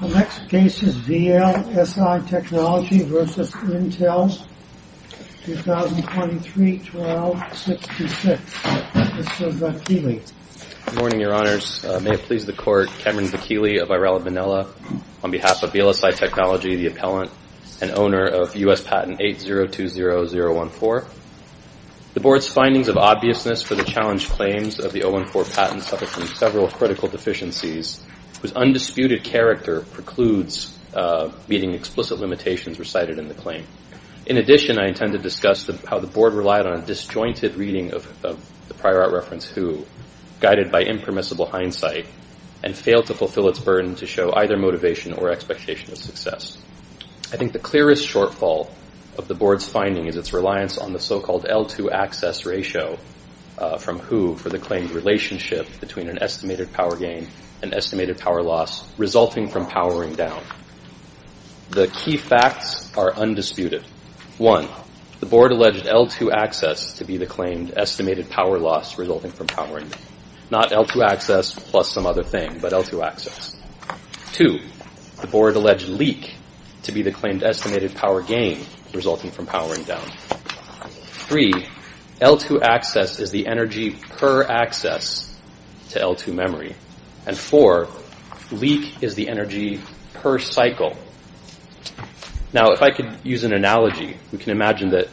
The next case is VLSI Technology v. Intel, 2023-12-626. Mr. Vakili. Good morning, your honors. May it please the court, Cameron Vakili of Irela Manila, on behalf of VLSI Technology, the appellant and owner of U.S. patent 8020014. The board's findings of obviousness for the challenged claims of the 014 patent suffer from several critical deficiencies, whose undisputed character precludes meeting explicit limitations recited in the claim. In addition, I intend to discuss how the board relied on a disjointed reading of the prior art reference, guided by impermissible hindsight, and failed to fulfill its burden to show either motivation or expectation of success. I think the clearest shortfall of the board's finding is its reliance on the so-called L2 access ratio from who for the claimed relationship between an estimated power gain and estimated power loss resulting from powering down. The key facts are undisputed. One, the board alleged L2 access to be the claimed estimated power loss resulting from powering down. Not L2 access plus some other thing, but L2 access. Two, the board alleged leak to be the claimed estimated power gain resulting from powering down. Three, L2 access is the energy per access to L2 memory. And four, leak is the energy per cycle. Now, if I could use an analogy, we can imagine that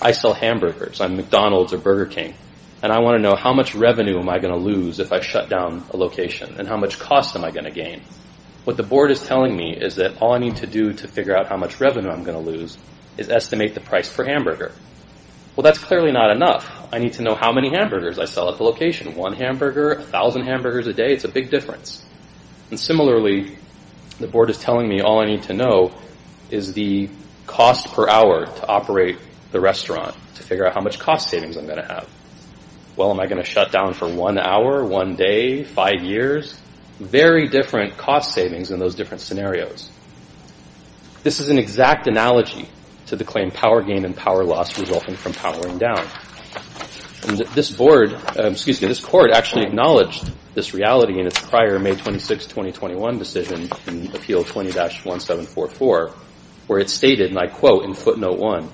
I sell hamburgers on McDonald's or Burger King, and I want to know how much revenue am I going to lose if I shut down a location, and how much cost am I going to gain? What the board is telling me is that all I need to do to figure out how much revenue I'm going to lose is estimate the price per hamburger. Well, that's clearly not enough. I need to know how many hamburgers I sell at the location. One hamburger, a thousand hamburgers a day, it's a big difference. And similarly, the board is telling me all I need to know is the cost per hour to operate the restaurant to figure out how much cost savings I'm going to have. Well, am I going to shut down for one hour, one day, five years? Very different cost savings in those different scenarios. This is an exact analogy to the claimed power gain and power loss resulting from powering down. This board, excuse me, this court actually acknowledged this reality in its prior May 26, 2021 decision in Appeal 20-1744, where it stated, and I quote in footnote one,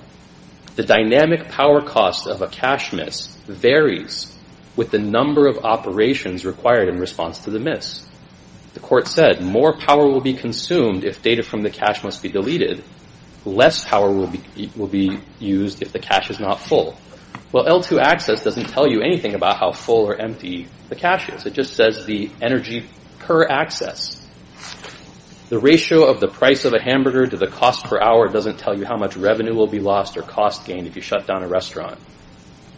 the dynamic power cost of a cash miss varies with the number of operations required in response to the miss. The court said, more power will be consumed if data from the cash must be deleted. Less power will be used if the cash is not full. Well, L2 access doesn't tell you anything about how full or empty the cash is. It just says the energy per access. The ratio of the price of a hamburger to the cost per hour doesn't tell you how much revenue will be lost or cost gained if you shut down a restaurant.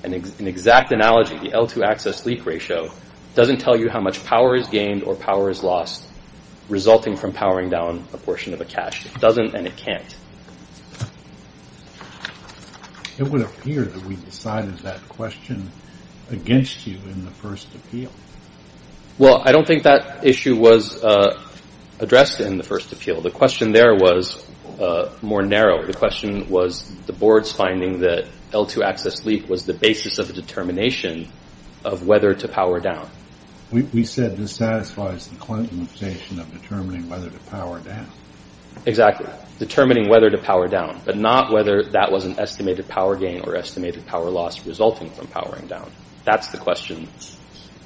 An exact analogy, the L2 access leak ratio doesn't tell you how much power is gained or power is lost resulting from powering down a portion of a cash. It doesn't and it can't. It would appear that we decided that question against you in the first appeal. Well, I don't think that issue was addressed in the first appeal. The question there was more narrow. The question was the board's finding that L2 access leak was the basis of a determination of whether to power down. We said this satisfies the Clintonization of determining whether to power down. Exactly. Determining whether to power down, but not whether that was an estimated power gain or estimated power loss resulting from powering down. That's the question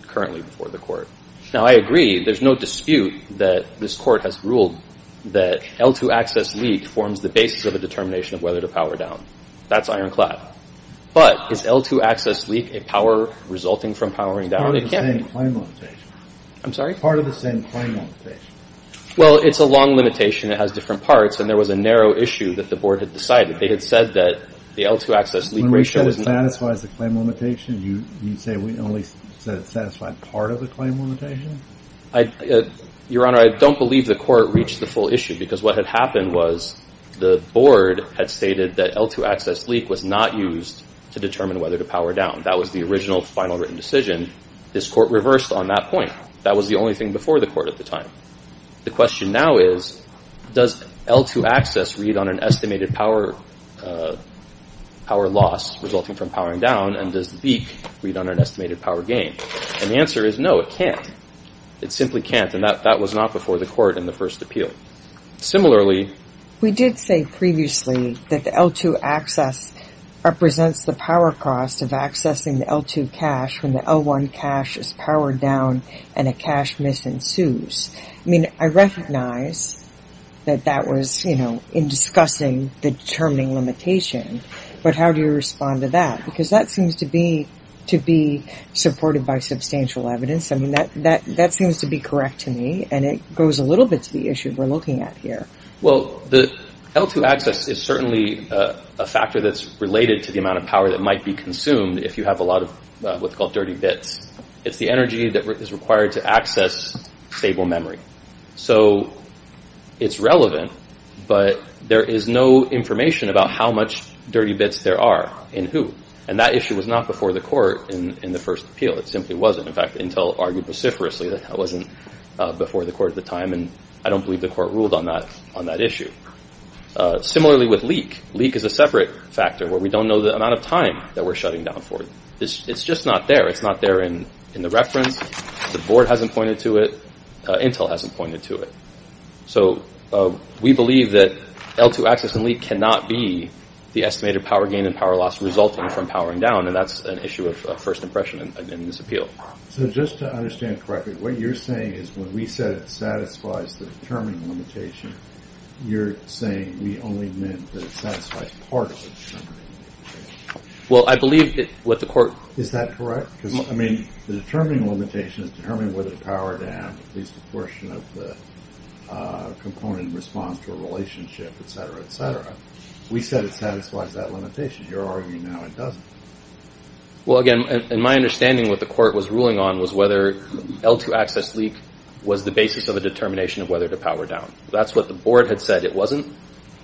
currently before the court. Now, I agree, there's no dispute that this court has ruled that L2 access leak forms the basis of a determination of whether to power down. That's ironclad. But is L2 access leak a power resulting from powering down? It's part of the same claim limitation. I'm sorry? Part of the same claim limitation. Well, it's a long limitation. It has different parts and there was a narrow issue that the board had decided. They had said that the L2 access leak ratio... You say we only said it satisfied part of the claim limitation? Your Honor, I don't believe the court reached the full issue because what had happened was the board had stated that L2 access leak was not used to determine whether to power down. That was the original final written decision. This court reversed on that point. That was the only thing before the court at the time. The question now is, does L2 access read on an estimated power loss resulting from powering down and does the leak read on an estimated power gain? And the answer is no, it can't. It simply can't. And that was not before the court in the first appeal. Similarly... We did say previously that the L2 access represents the power cost of accessing the L2 cache when the L1 cache is powered down and a cache miss ensues. I mean, I recognize that that was, you know, in discussing the determining limitation, but how do you respond to that? Because that seems to be supported by substantial evidence. I mean, that seems to be correct to me and it goes a little bit to the issue we're looking at here. Well, the L2 access is certainly a factor that's related to the amount of power that might be consumed if you have a lot of what's called dirty bits. It's the energy that is required to access stable memory. So it's relevant, but there is no information about how much dirty bits there are and who. And that issue was not before the court in the first appeal. It simply wasn't. In fact, Intel argued vociferously that it wasn't before the court at the time and I don't believe the court ruled on that issue. Similarly with leak. Leak is a separate factor where we don't know the amount of time that we're shutting down for. It's just not there. It's not there in the reference. The board hasn't pointed to it. Intel hasn't pointed to it. So we believe that L2 access and leak cannot be the estimated power gain and power loss resulting from powering down. And that's an issue of first impression in this appeal. So just to understand correctly, what you're saying is when we said it satisfies the determining limitation, you're saying we only meant that it satisfies part of the determining limitation. Well, I believe what the court. Is that correct? I mean, the determining limitation is determining whether to power down at least a portion of the component in response to a relationship, etc., etc. We said it satisfies that limitation. You're arguing now it doesn't. Well, again, in my understanding, what the court was ruling on was whether L2 access leak was the basis of a determination of whether to power down. That's what the board had said it wasn't.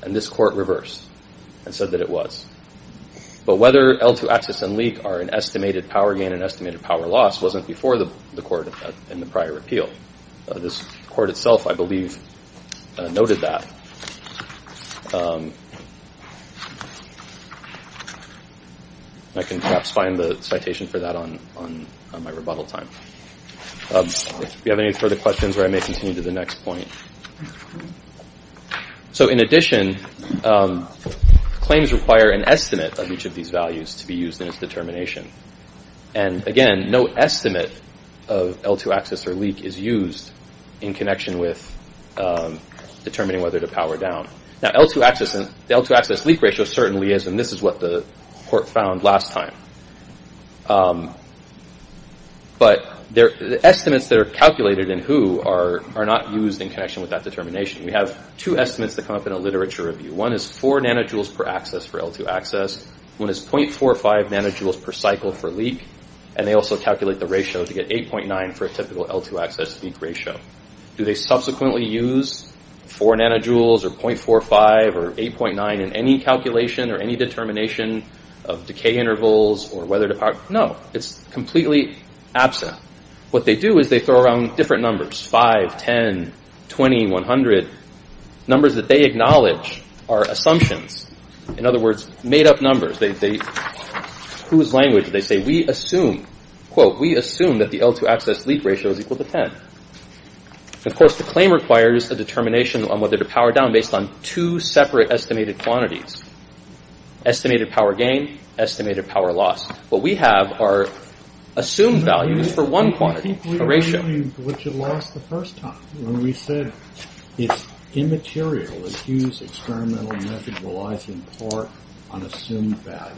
And this court reversed and said that it was. But whether L2 access and leak are an estimated power gain, an estimated power loss wasn't before the court in the prior appeal. This court itself, I believe, noted that. I can perhaps find the citation for that on my rebuttal time. If you have any further questions, I may continue to the next point. So, in addition, claims require an estimate of each of these values to be used in its determination. And, again, no estimate of L2 access or leak is used in connection with determining whether to power down. Now, L2 access and the L2 access leak ratio certainly is, and this is what the court found last time. But the estimates that are calculated in WHO are not used in connection with that determination. We have two estimates that come up in a literature review. One is 4 nanojoules per access for L2 access. One is 0.45 nanojoules per cycle for leak. And they also calculate the ratio to get 8.9 for a typical L2 access leak ratio. Do they subsequently use 4 nanojoules or 0.45 or 8.9 in any calculation or any determination of decay intervals or whether to power? No. It's completely absent. What they do is they throw around different numbers, 5, 10, 20, 100. Numbers that they acknowledge are assumptions. In other words, made-up numbers. Whose language did they say? We assume, quote, we assume that the L2 access leak ratio is equal to 10. Of course, the claim requires a determination on whether to power down based on two separate estimated quantities. Estimated power gain, estimated power loss. What we have are assumed values for one quantity, a ratio. What you lost the first time when we said it's immaterial. It's used experimental method relies in part on assumed values.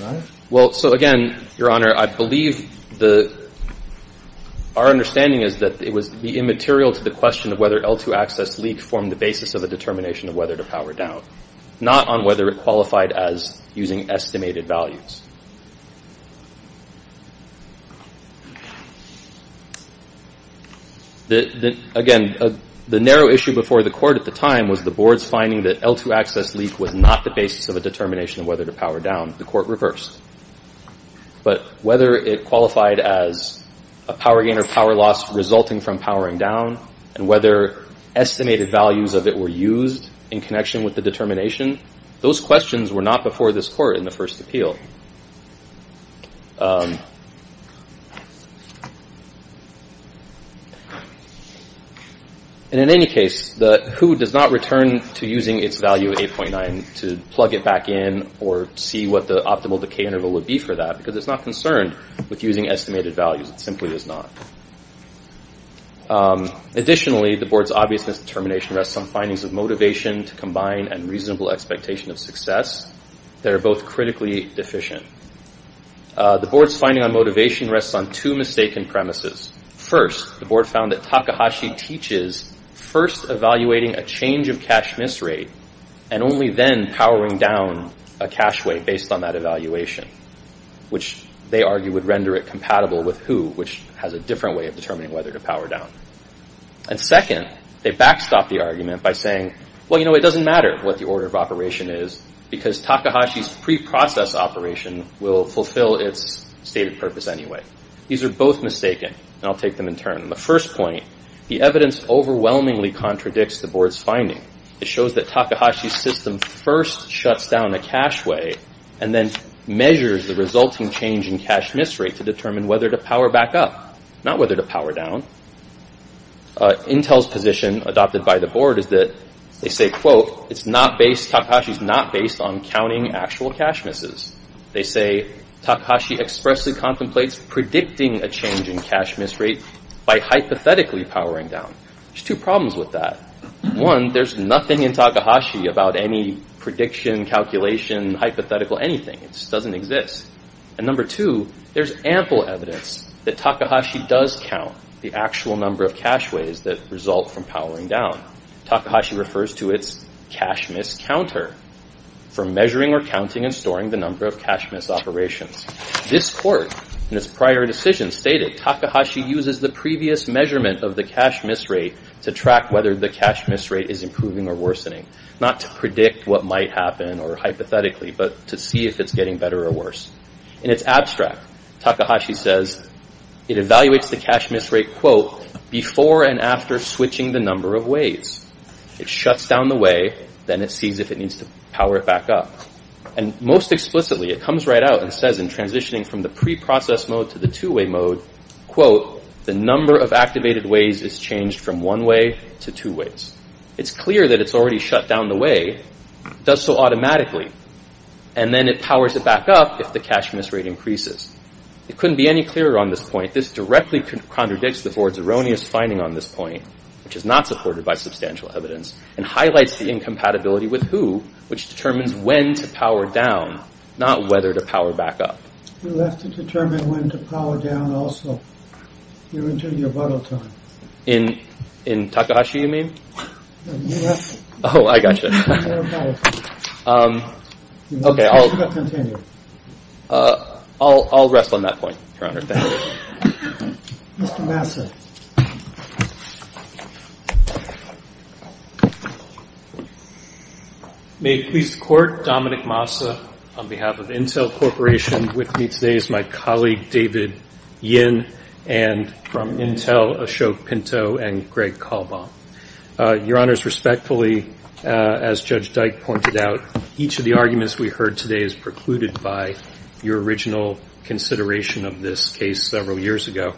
Right? Well, so again, Your Honor, I believe our understanding is that it was immaterial to the question of whether L2 access leak formed the basis of a determination of whether to power down. Not on whether it qualified as using estimated values. Again, the narrow issue before the court at the time was the board's finding that L2 access leak was not the basis of a determination of whether to power down. The court reversed. But whether it qualified as a power gain or power loss resulting from powering down and whether estimated values of it were used in connection with the determination, those questions were not before this court in the first appeal. And in any case, the who does not return to using its value of 8.9 to plug it back in or see what the optimal decay interval would be for that because it's not concerned with using estimated values. It simply is not. Additionally, the board's obviousness determination rests on findings of motivation to combine and reasonable expectation of success. They're both critically deficient. The board's finding on motivation rests on two mistaken premises. First, the board found that Takahashi teaches first evaluating a change of cash miss rate and only then powering down a cash way based on that evaluation, which they argue would render it compatible with who, which has a different way of determining whether to power down. And second, they backstop the argument by saying, well, you know, it doesn't matter what the order of operation is because Takahashi's pre-process operation will fulfill its stated purpose anyway. These are both mistaken, and I'll take them in turn. The first point, the evidence overwhelmingly contradicts the board's finding. It shows that Takahashi's system first shuts down a cash way and then measures the resulting change in cash miss rate to determine whether to power back up, not whether to power down. Intel's position, adopted by the board, is that they say, quote, it's not based, Takahashi's not based on counting actual cash misses. They say Takahashi expressly contemplates predicting a change in cash miss rate by hypothetically powering down. There's two problems with that. One, there's nothing in Takahashi about any prediction, calculation, hypothetical, anything. It doesn't exist. And number two, there's ample evidence that Takahashi does count the actual number of cash ways that result from powering down. Takahashi refers to its cash miss counter for measuring or counting and storing the number of cash miss operations. This court, in its prior decision, stated Takahashi uses the previous measurement of the cash miss rate to track whether the cash miss rate is improving or worsening, not to predict what might happen or hypothetically, but to see if it's getting better or worse. In its abstract, Takahashi says it evaluates the cash miss rate, quote, before and after switching the number of ways. It shuts down the way, then it sees if it needs to power it back up. And most explicitly, it comes right out and says in transitioning from the preprocess mode to the two-way mode, quote, the number of activated ways is changed from one way to two ways. It's clear that it's already shut down the way, does so automatically, and then it powers it back up if the cash miss rate increases. It couldn't be any clearer on this point. This directly contradicts the board's erroneous finding on this point, which is not supported by substantial evidence, and highlights the incompatibility with who, which determines when to power down, not whether to power back up. You have to determine when to power down also. You're into your bottle time. In Takahashi, you mean? Yes. Oh, I got you. OK, I'll continue. I'll rest on that point, Your Honor. Mr. Massa. May it please the Court, Dominic Massa on behalf of Intel Corporation. With me today is my colleague, David Yin, and from Intel, Ashok Pinto, and Greg Kalbaum. Your Honors, respectfully, as Judge Dyke pointed out, each of the arguments we heard today is precluded by your original consideration of this case several years ago.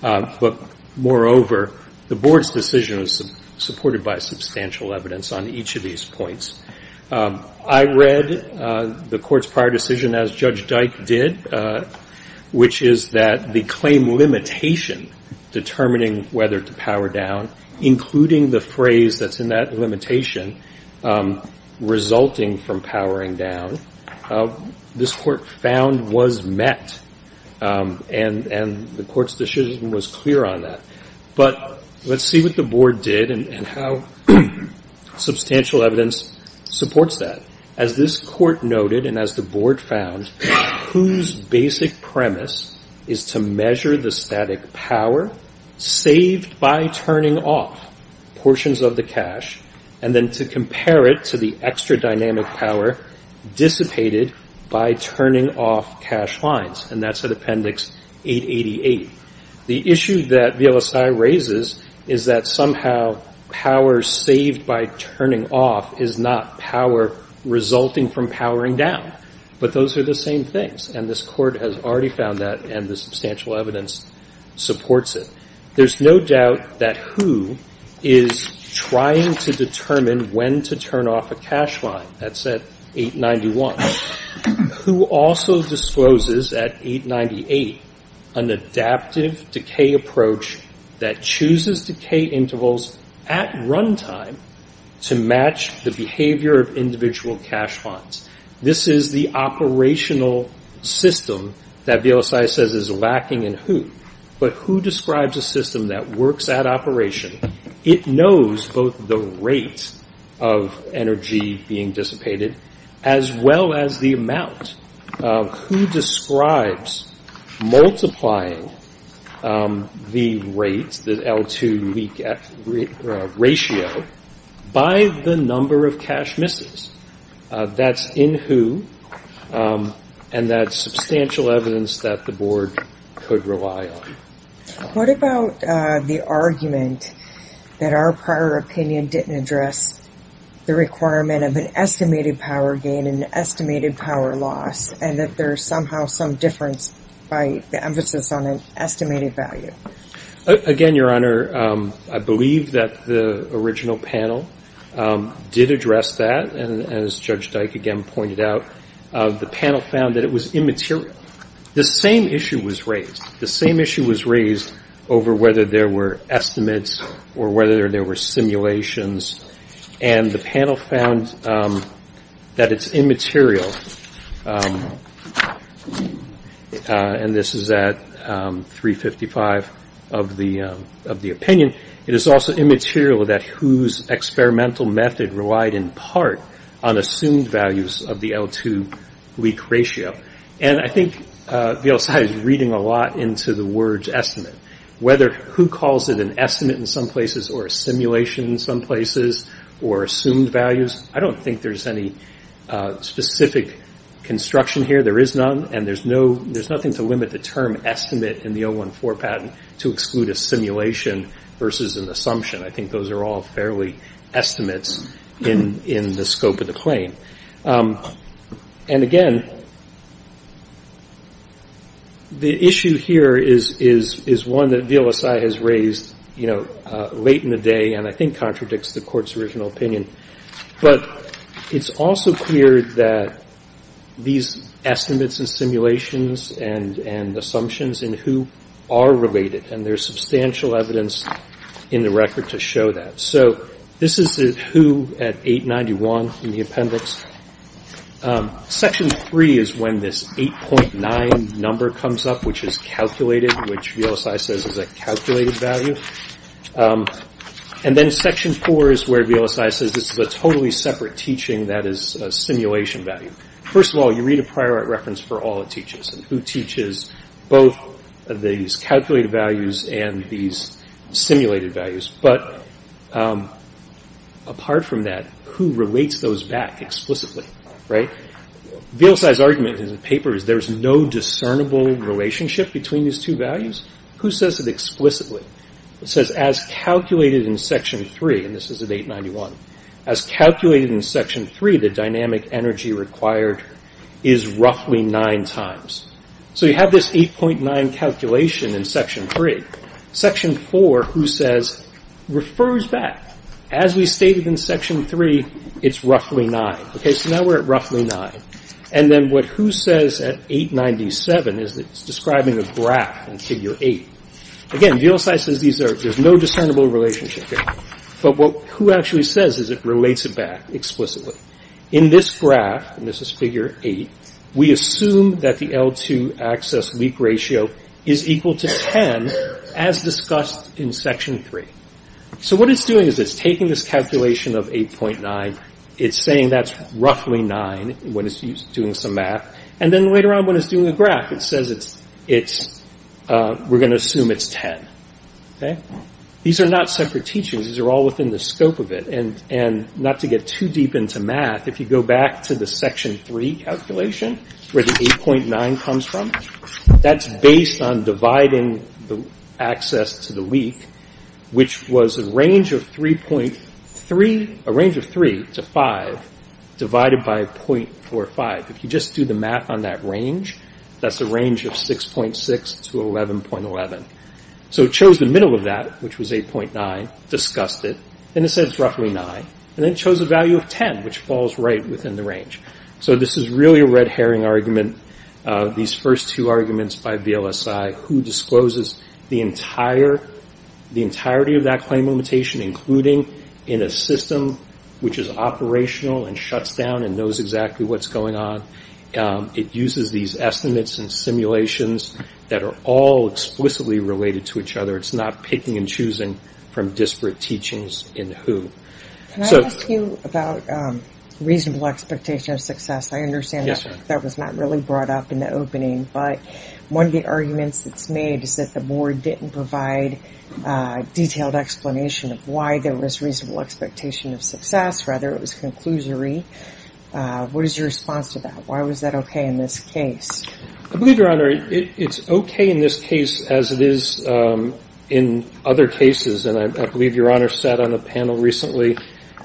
But moreover, the board's decision is supported by substantial evidence on each of these points. I read the Court's prior decision, as Judge Dyke did, which is that the claim limitation determining whether to power down, including the phrase that's in that limitation, resulting from powering down, this Court found was met. And the Court's decision was clear on that. But let's see what the board did and how substantial evidence supports that. As this Court noted, and as the board found, whose basic premise is to measure the static power saved by turning off portions of the cash, and then to compare it to the extra dynamic power dissipated by turning off cash lines. And that's at Appendix 888. The issue that VLSI raises is that somehow power saved by turning off is not power resulting from powering down. But those are the same things. And this Court has already found that, and the substantial evidence supports it. There's no doubt that who is trying to determine when to turn off a cash line. That's at 891. Who also discloses at 898 an adaptive decay approach that chooses decay intervals at run time to match the behavior of individual cash funds. This is the operational system that VLSI says is lacking in who. But who describes a system that works at operation. It knows both the rate of energy being dissipated as well as the amount. Who describes multiplying the rate, the L2 ratio, by the number of cash misses? That's in who, and that's substantial evidence that the board could rely on. What about the argument that our prior opinion didn't address the requirement of an estimated power gain and an estimated power loss, and that there's somehow some difference by the emphasis on an estimated value? Again, Your Honor, I believe that the original panel did address that. And as Judge Dyke again pointed out, the panel found that it was immaterial. The same issue was raised. The same issue was raised over whether there were estimates or whether there were simulations. And the panel found that it's immaterial. And this is at 355 of the opinion. It is also immaterial that whose experimental method relied in part on assumed values of the L2 leak ratio. And I think VLSI is reading a lot into the word estimate, whether who calls it an estimate in some places or a simulation in some places or assumed values. I don't think there's any specific construction here. There is none, and there's nothing to limit the term estimate in the 014 patent to exclude a simulation versus an assumption. I think those are all fairly estimates in the scope of the claim. And again, the issue here is one that VLSI has raised, you know, late in the day and I think contradicts the Court's original opinion. But it's also clear that these estimates and simulations and assumptions in who are related, and there's substantial evidence in the record to show that. So this is who at 891 in the appendix. Section three is when this 8.9 number comes up, which is calculated, which VLSI says is a calculated value. And then section four is where VLSI says this is a totally separate teaching that is a simulation value. First of all, you read a prior art reference for all it teaches, and who teaches both these calculated values and these simulated values. But apart from that, who relates those back explicitly, right? VLSI's argument in the paper is there's no discernible relationship between these two values. Who says it explicitly? It says as calculated in section three, and this is at 891, as calculated in section three, the dynamic energy required is roughly nine times. So you have this 8.9 calculation in section three. Section four, who says, refers back. As we stated in section three, it's roughly nine. Okay, so now we're at roughly nine. And then what who says at 897 is that it's describing a graph in figure eight. Again, VLSI says there's no discernible relationship there. But what who actually says is it relates it back explicitly. In this graph, and this is figure eight, we assume that the L2 access leak ratio is equal to ten, as discussed in section three. So what it's doing is it's taking this calculation of 8.9. It's saying that's roughly nine when it's doing some math. And then later on when it's doing a graph, it says we're going to assume it's ten. These are not separate teachings. These are all within the scope of it. And not to get too deep into math, if you go back to the section three calculation, where the 8.9 comes from, that's based on dividing the access to the leak, which was a range of 3.3, a range of 3 to 5, divided by .45. If you just do the math on that range, that's a range of 6.6 to 11.11. So it chose the middle of that, which was 8.9, discussed it, and it said it's roughly nine. And then it chose a value of ten, which falls right within the range. So this is really a red herring argument, these first two arguments by VLSI, who discloses the entirety of that claim limitation, including in a system which is operational and shuts down and knows exactly what's going on. It uses these estimates and simulations that are all explicitly related to each other. It's not picking and choosing from disparate teachings in who. Can I ask you about reasonable expectation of success? I understand that was not really brought up in the opening, but one of the arguments that's made is that the board didn't provide a detailed explanation of why there was reasonable expectation of success. Rather, it was conclusory. What is your response to that? Why was that okay in this case? I believe, Your Honor, it's okay in this case as it is in other cases. And I believe Your Honor sat on a panel recently,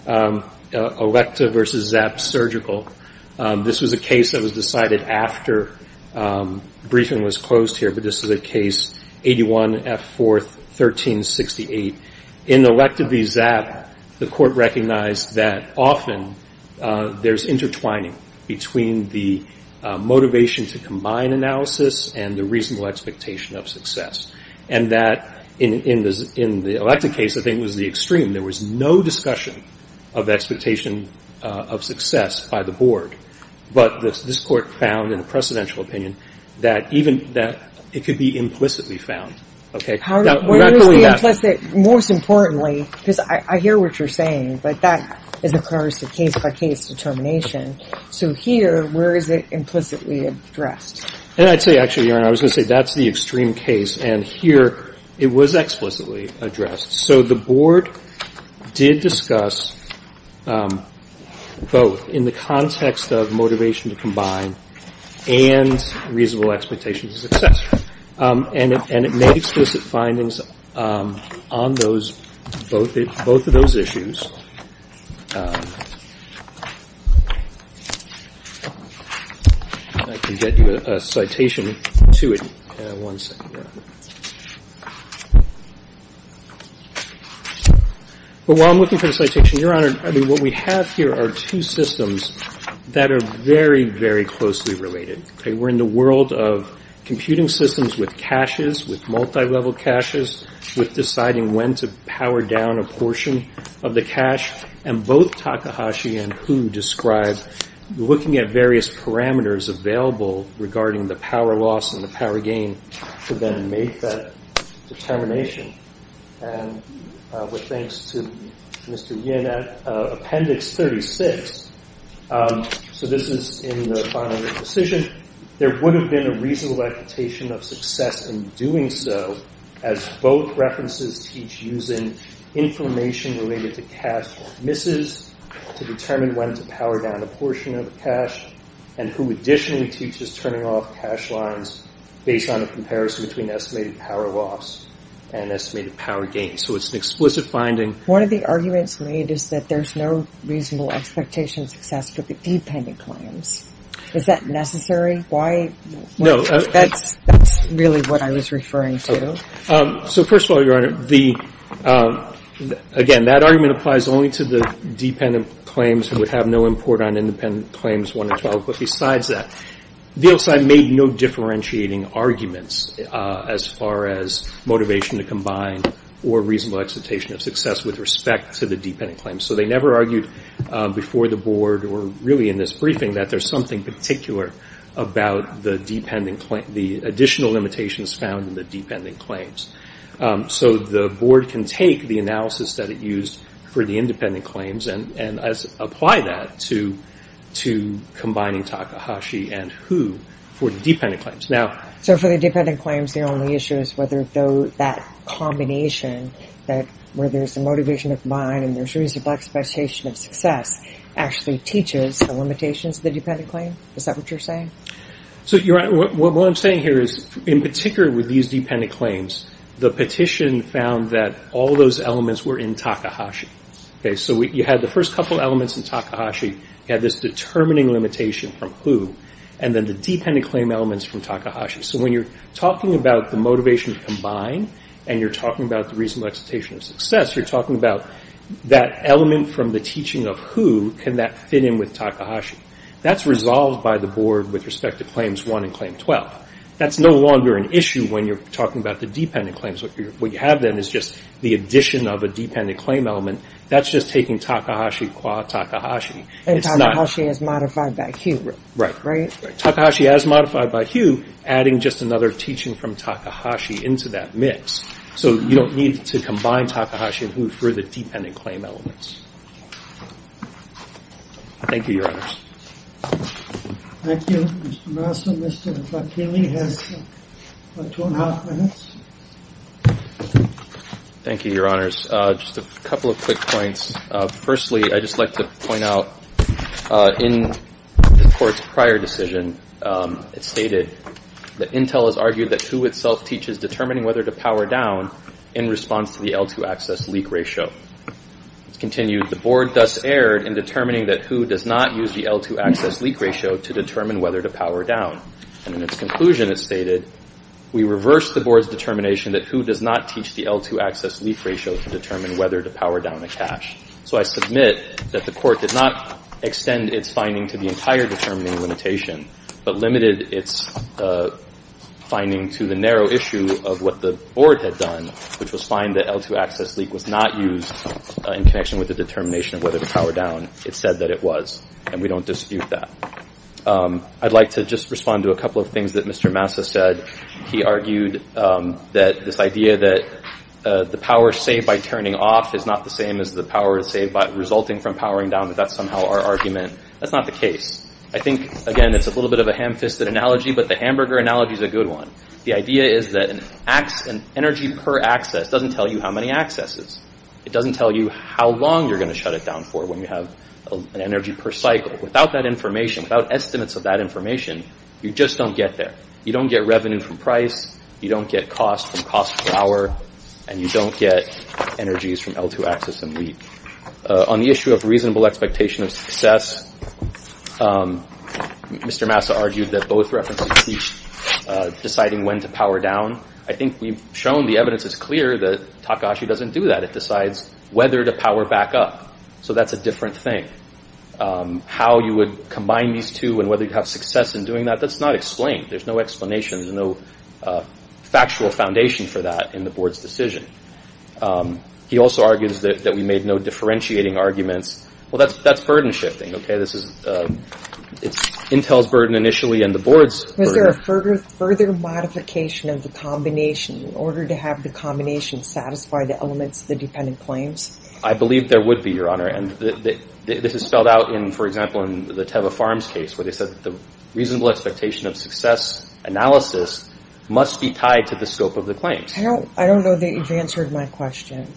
Electa v. Zapp Surgical. This was a case that was decided after briefing was closed here. But this is a case, 81 F. 4th, 1368. In Electa v. Zapp, the Court recognized that often there's intertwining between the motivation to combine analysis and the reasonable expectation of success, and that in the Electa case, I think, was the extreme. There was no discussion of expectation of success by the board. But this Court found in a precedential opinion that even that it could be implicitly found. Okay? Now, where is the implicit, most importantly, because I hear what you're saying, but that is a case-by-case determination. So here, where is it implicitly addressed? And I'd say, actually, Your Honor, I was going to say that's the extreme case. And here, it was explicitly addressed. So the board did discuss both in the context of motivation to combine and reasonable expectation of success. And it made explicit findings on those, both of those issues. And I can get you a citation to it in one second here. But while I'm looking for the citation, Your Honor, I mean, what we have here are two systems that are very, very closely related. We're in the world of computing systems with caches, with multilevel caches, with deciding when to power down a portion of the cache. And both Takahashi and Hu describe looking at various parameters available regarding the power loss and the power gain to then make that determination. And with thanks to Mr. Yin, Appendix 36, so this is in the final decision, there would have been a reasonable expectation of success in doing so as both references teach using information related to cache or misses to determine when to power down a portion of the cache, and who additionally teaches turning off cache lines based on a comparison between estimated power loss and estimated power gain. So it's an explicit finding. One of the arguments made is that there's no reasonable expectation of success for the dependent claims. Is that necessary? Why? No. That's really what I was referring to. So first of all, Your Honor, the – again, that argument applies only to the dependent claims who would have no import on independent claims 1 and 12. But besides that, VLCI made no differentiating arguments as far as motivation to combine or reasonable expectation of success with respect to the dependent claims. So they never argued before the Board or really in this briefing that there's something particular about the dependent – the additional limitations found in the dependent claims. So the Board can take the analysis that it used for the independent claims and apply that to combining Takahashi and Hu for the dependent claims. Now – So for the dependent claims, the only issue is whether that combination, that where there's a motivation to combine and there's reasonable expectation of success, actually teaches the limitations of the dependent claim? Is that what you're saying? So, Your Honor, what I'm saying here is, in particular with these dependent claims, the petition found that all those elements were in Takahashi. Okay? So you had the first couple elements in Takahashi. You had this determining limitation from Hu. And then the dependent claim elements from Takahashi. So when you're talking about the motivation to combine and you're talking about the reasonable expectation of success, you're talking about that element from the teaching of Hu, can that fit in with Takahashi? That's resolved by the Board with respect to Claims 1 and Claim 12. That's no longer an issue when you're talking about the dependent claims. What you have then is just the addition of a dependent claim element. That's just taking Takahashi qua Takahashi. And Takahashi as modified by Hu. Right. Takahashi as modified by Hu, adding just another teaching from Takahashi into that mix. So you don't need to combine Takahashi and Hu for the dependent claim elements. Thank you, Your Honors. Thank you. Mr. Masson. Mr. Facchini has about two and a half minutes. Thank you, Your Honors. Just a couple of quick points. Firstly, I'd just like to point out in the Court's prior decision, it stated that Hu itself teaches determining whether to power down in response to the L2 access leak ratio. It continued, the Board thus erred in determining that Hu does not use the L2 access leak ratio to determine whether to power down. And in its conclusion, it stated, we reversed the Board's determination that Hu does not teach the L2 access leak ratio to determine whether to power down a cash. So I submit that the Court did not extend its finding to the entire determining limitation, but limited its finding to the narrow issue of what the Board had done, which was find that L2 access leak was not used in connection with the determination of whether to power down. It said that it was, and we don't dispute that. I'd like to just respond to a couple of things that Mr. Masson said. He argued that this idea that the power saved by turning off is not the same as the power saved by resulting from powering down, that that's somehow our argument. That's not the case. I think, again, it's a little bit of a ham-fisted analogy, but the hamburger analogy is a good one. The idea is that an energy per access doesn't tell you how many accesses. It doesn't tell you how long you're going to shut it down for when you have an energy per cycle. Without that information, without estimates of that information, you just don't get there. You don't get revenue from price, you don't get cost from cost per hour, and you don't get energies from L2 access and leak. On the issue of reasonable expectation of success, Mr. Masson argued that both references teach deciding when to power down. I think we've shown the evidence is clear that Takahashi doesn't do that. It decides whether to power back up. So that's a different thing. How you would combine these two and whether you'd have success in doing that, that's not explained. There's no explanation. There's no factual foundation for that in the board's decision. He also argues that we made no differentiating arguments. Well, that's burden shifting, okay? This is Intel's burden initially and the board's burden. Was there a further modification of the combination in order to have the combination satisfy the elements of the dependent claims? I believe there would be, Your Honor, and this is spelled out in, for example, in the Teva Farms case where they said the reasonable expectation of success analysis must be tied to the scope of the claims. I don't know that you've answered my question.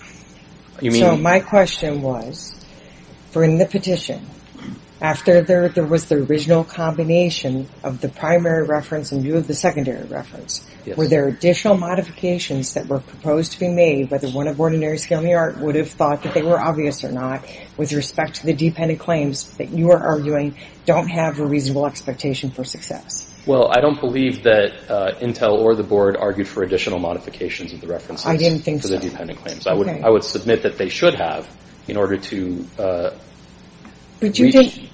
You mean? So my question was, for in the petition, after there was the original combination of the primary reference and view of the secondary reference, were there additional modifications that were proposed to be made, whether one of ordinary skill in the art would have thought that they were obvious or not, with respect to the dependent claims that you are arguing don't have a reasonable expectation for success? Well, I don't believe that Intel or the board argued for additional modifications of the references. I didn't think so. For the dependent claims. I would submit that they should have in order to reach.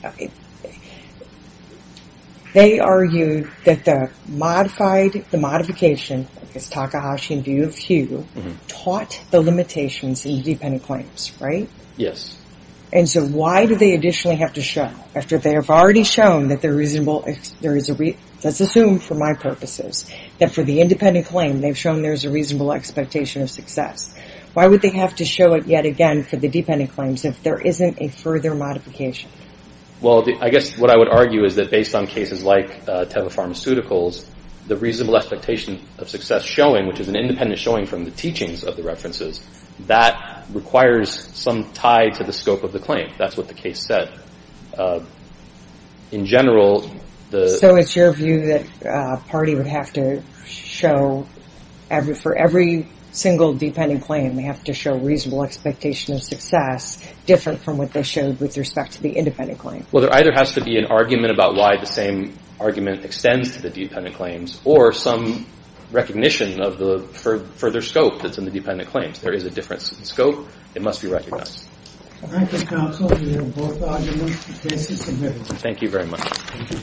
They argued that the modification, this Takahashi view of Hugh, taught the limitations in the dependent claims, right? Yes. And so why do they additionally have to show? After they have already shown that they're reasonable, there is a, let's assume for my purposes, that for the independent claim they've shown there's a reasonable expectation of success. Why would they have to show it yet again for the dependent claims if there isn't a further modification? Well, I guess what I would argue is that based on cases like Teva Pharmaceuticals, the reasonable expectation of success showing, which is an independent showing from the teachings of the references, that requires some tie to the scope of the claim. That's what the case said. In general. So it's your view that a party would have to show, for every single dependent claim, they have to show reasonable expectation of success different from what they showed with respect to the independent claim. Well, there either has to be an argument about why the same argument extends to the dependent claims or some recognition of the further scope that's in the dependent claims. There is a difference in scope. It must be recognized. All right. Thank you, counsel. We have both arguments. The case is submitted. Thank you very much.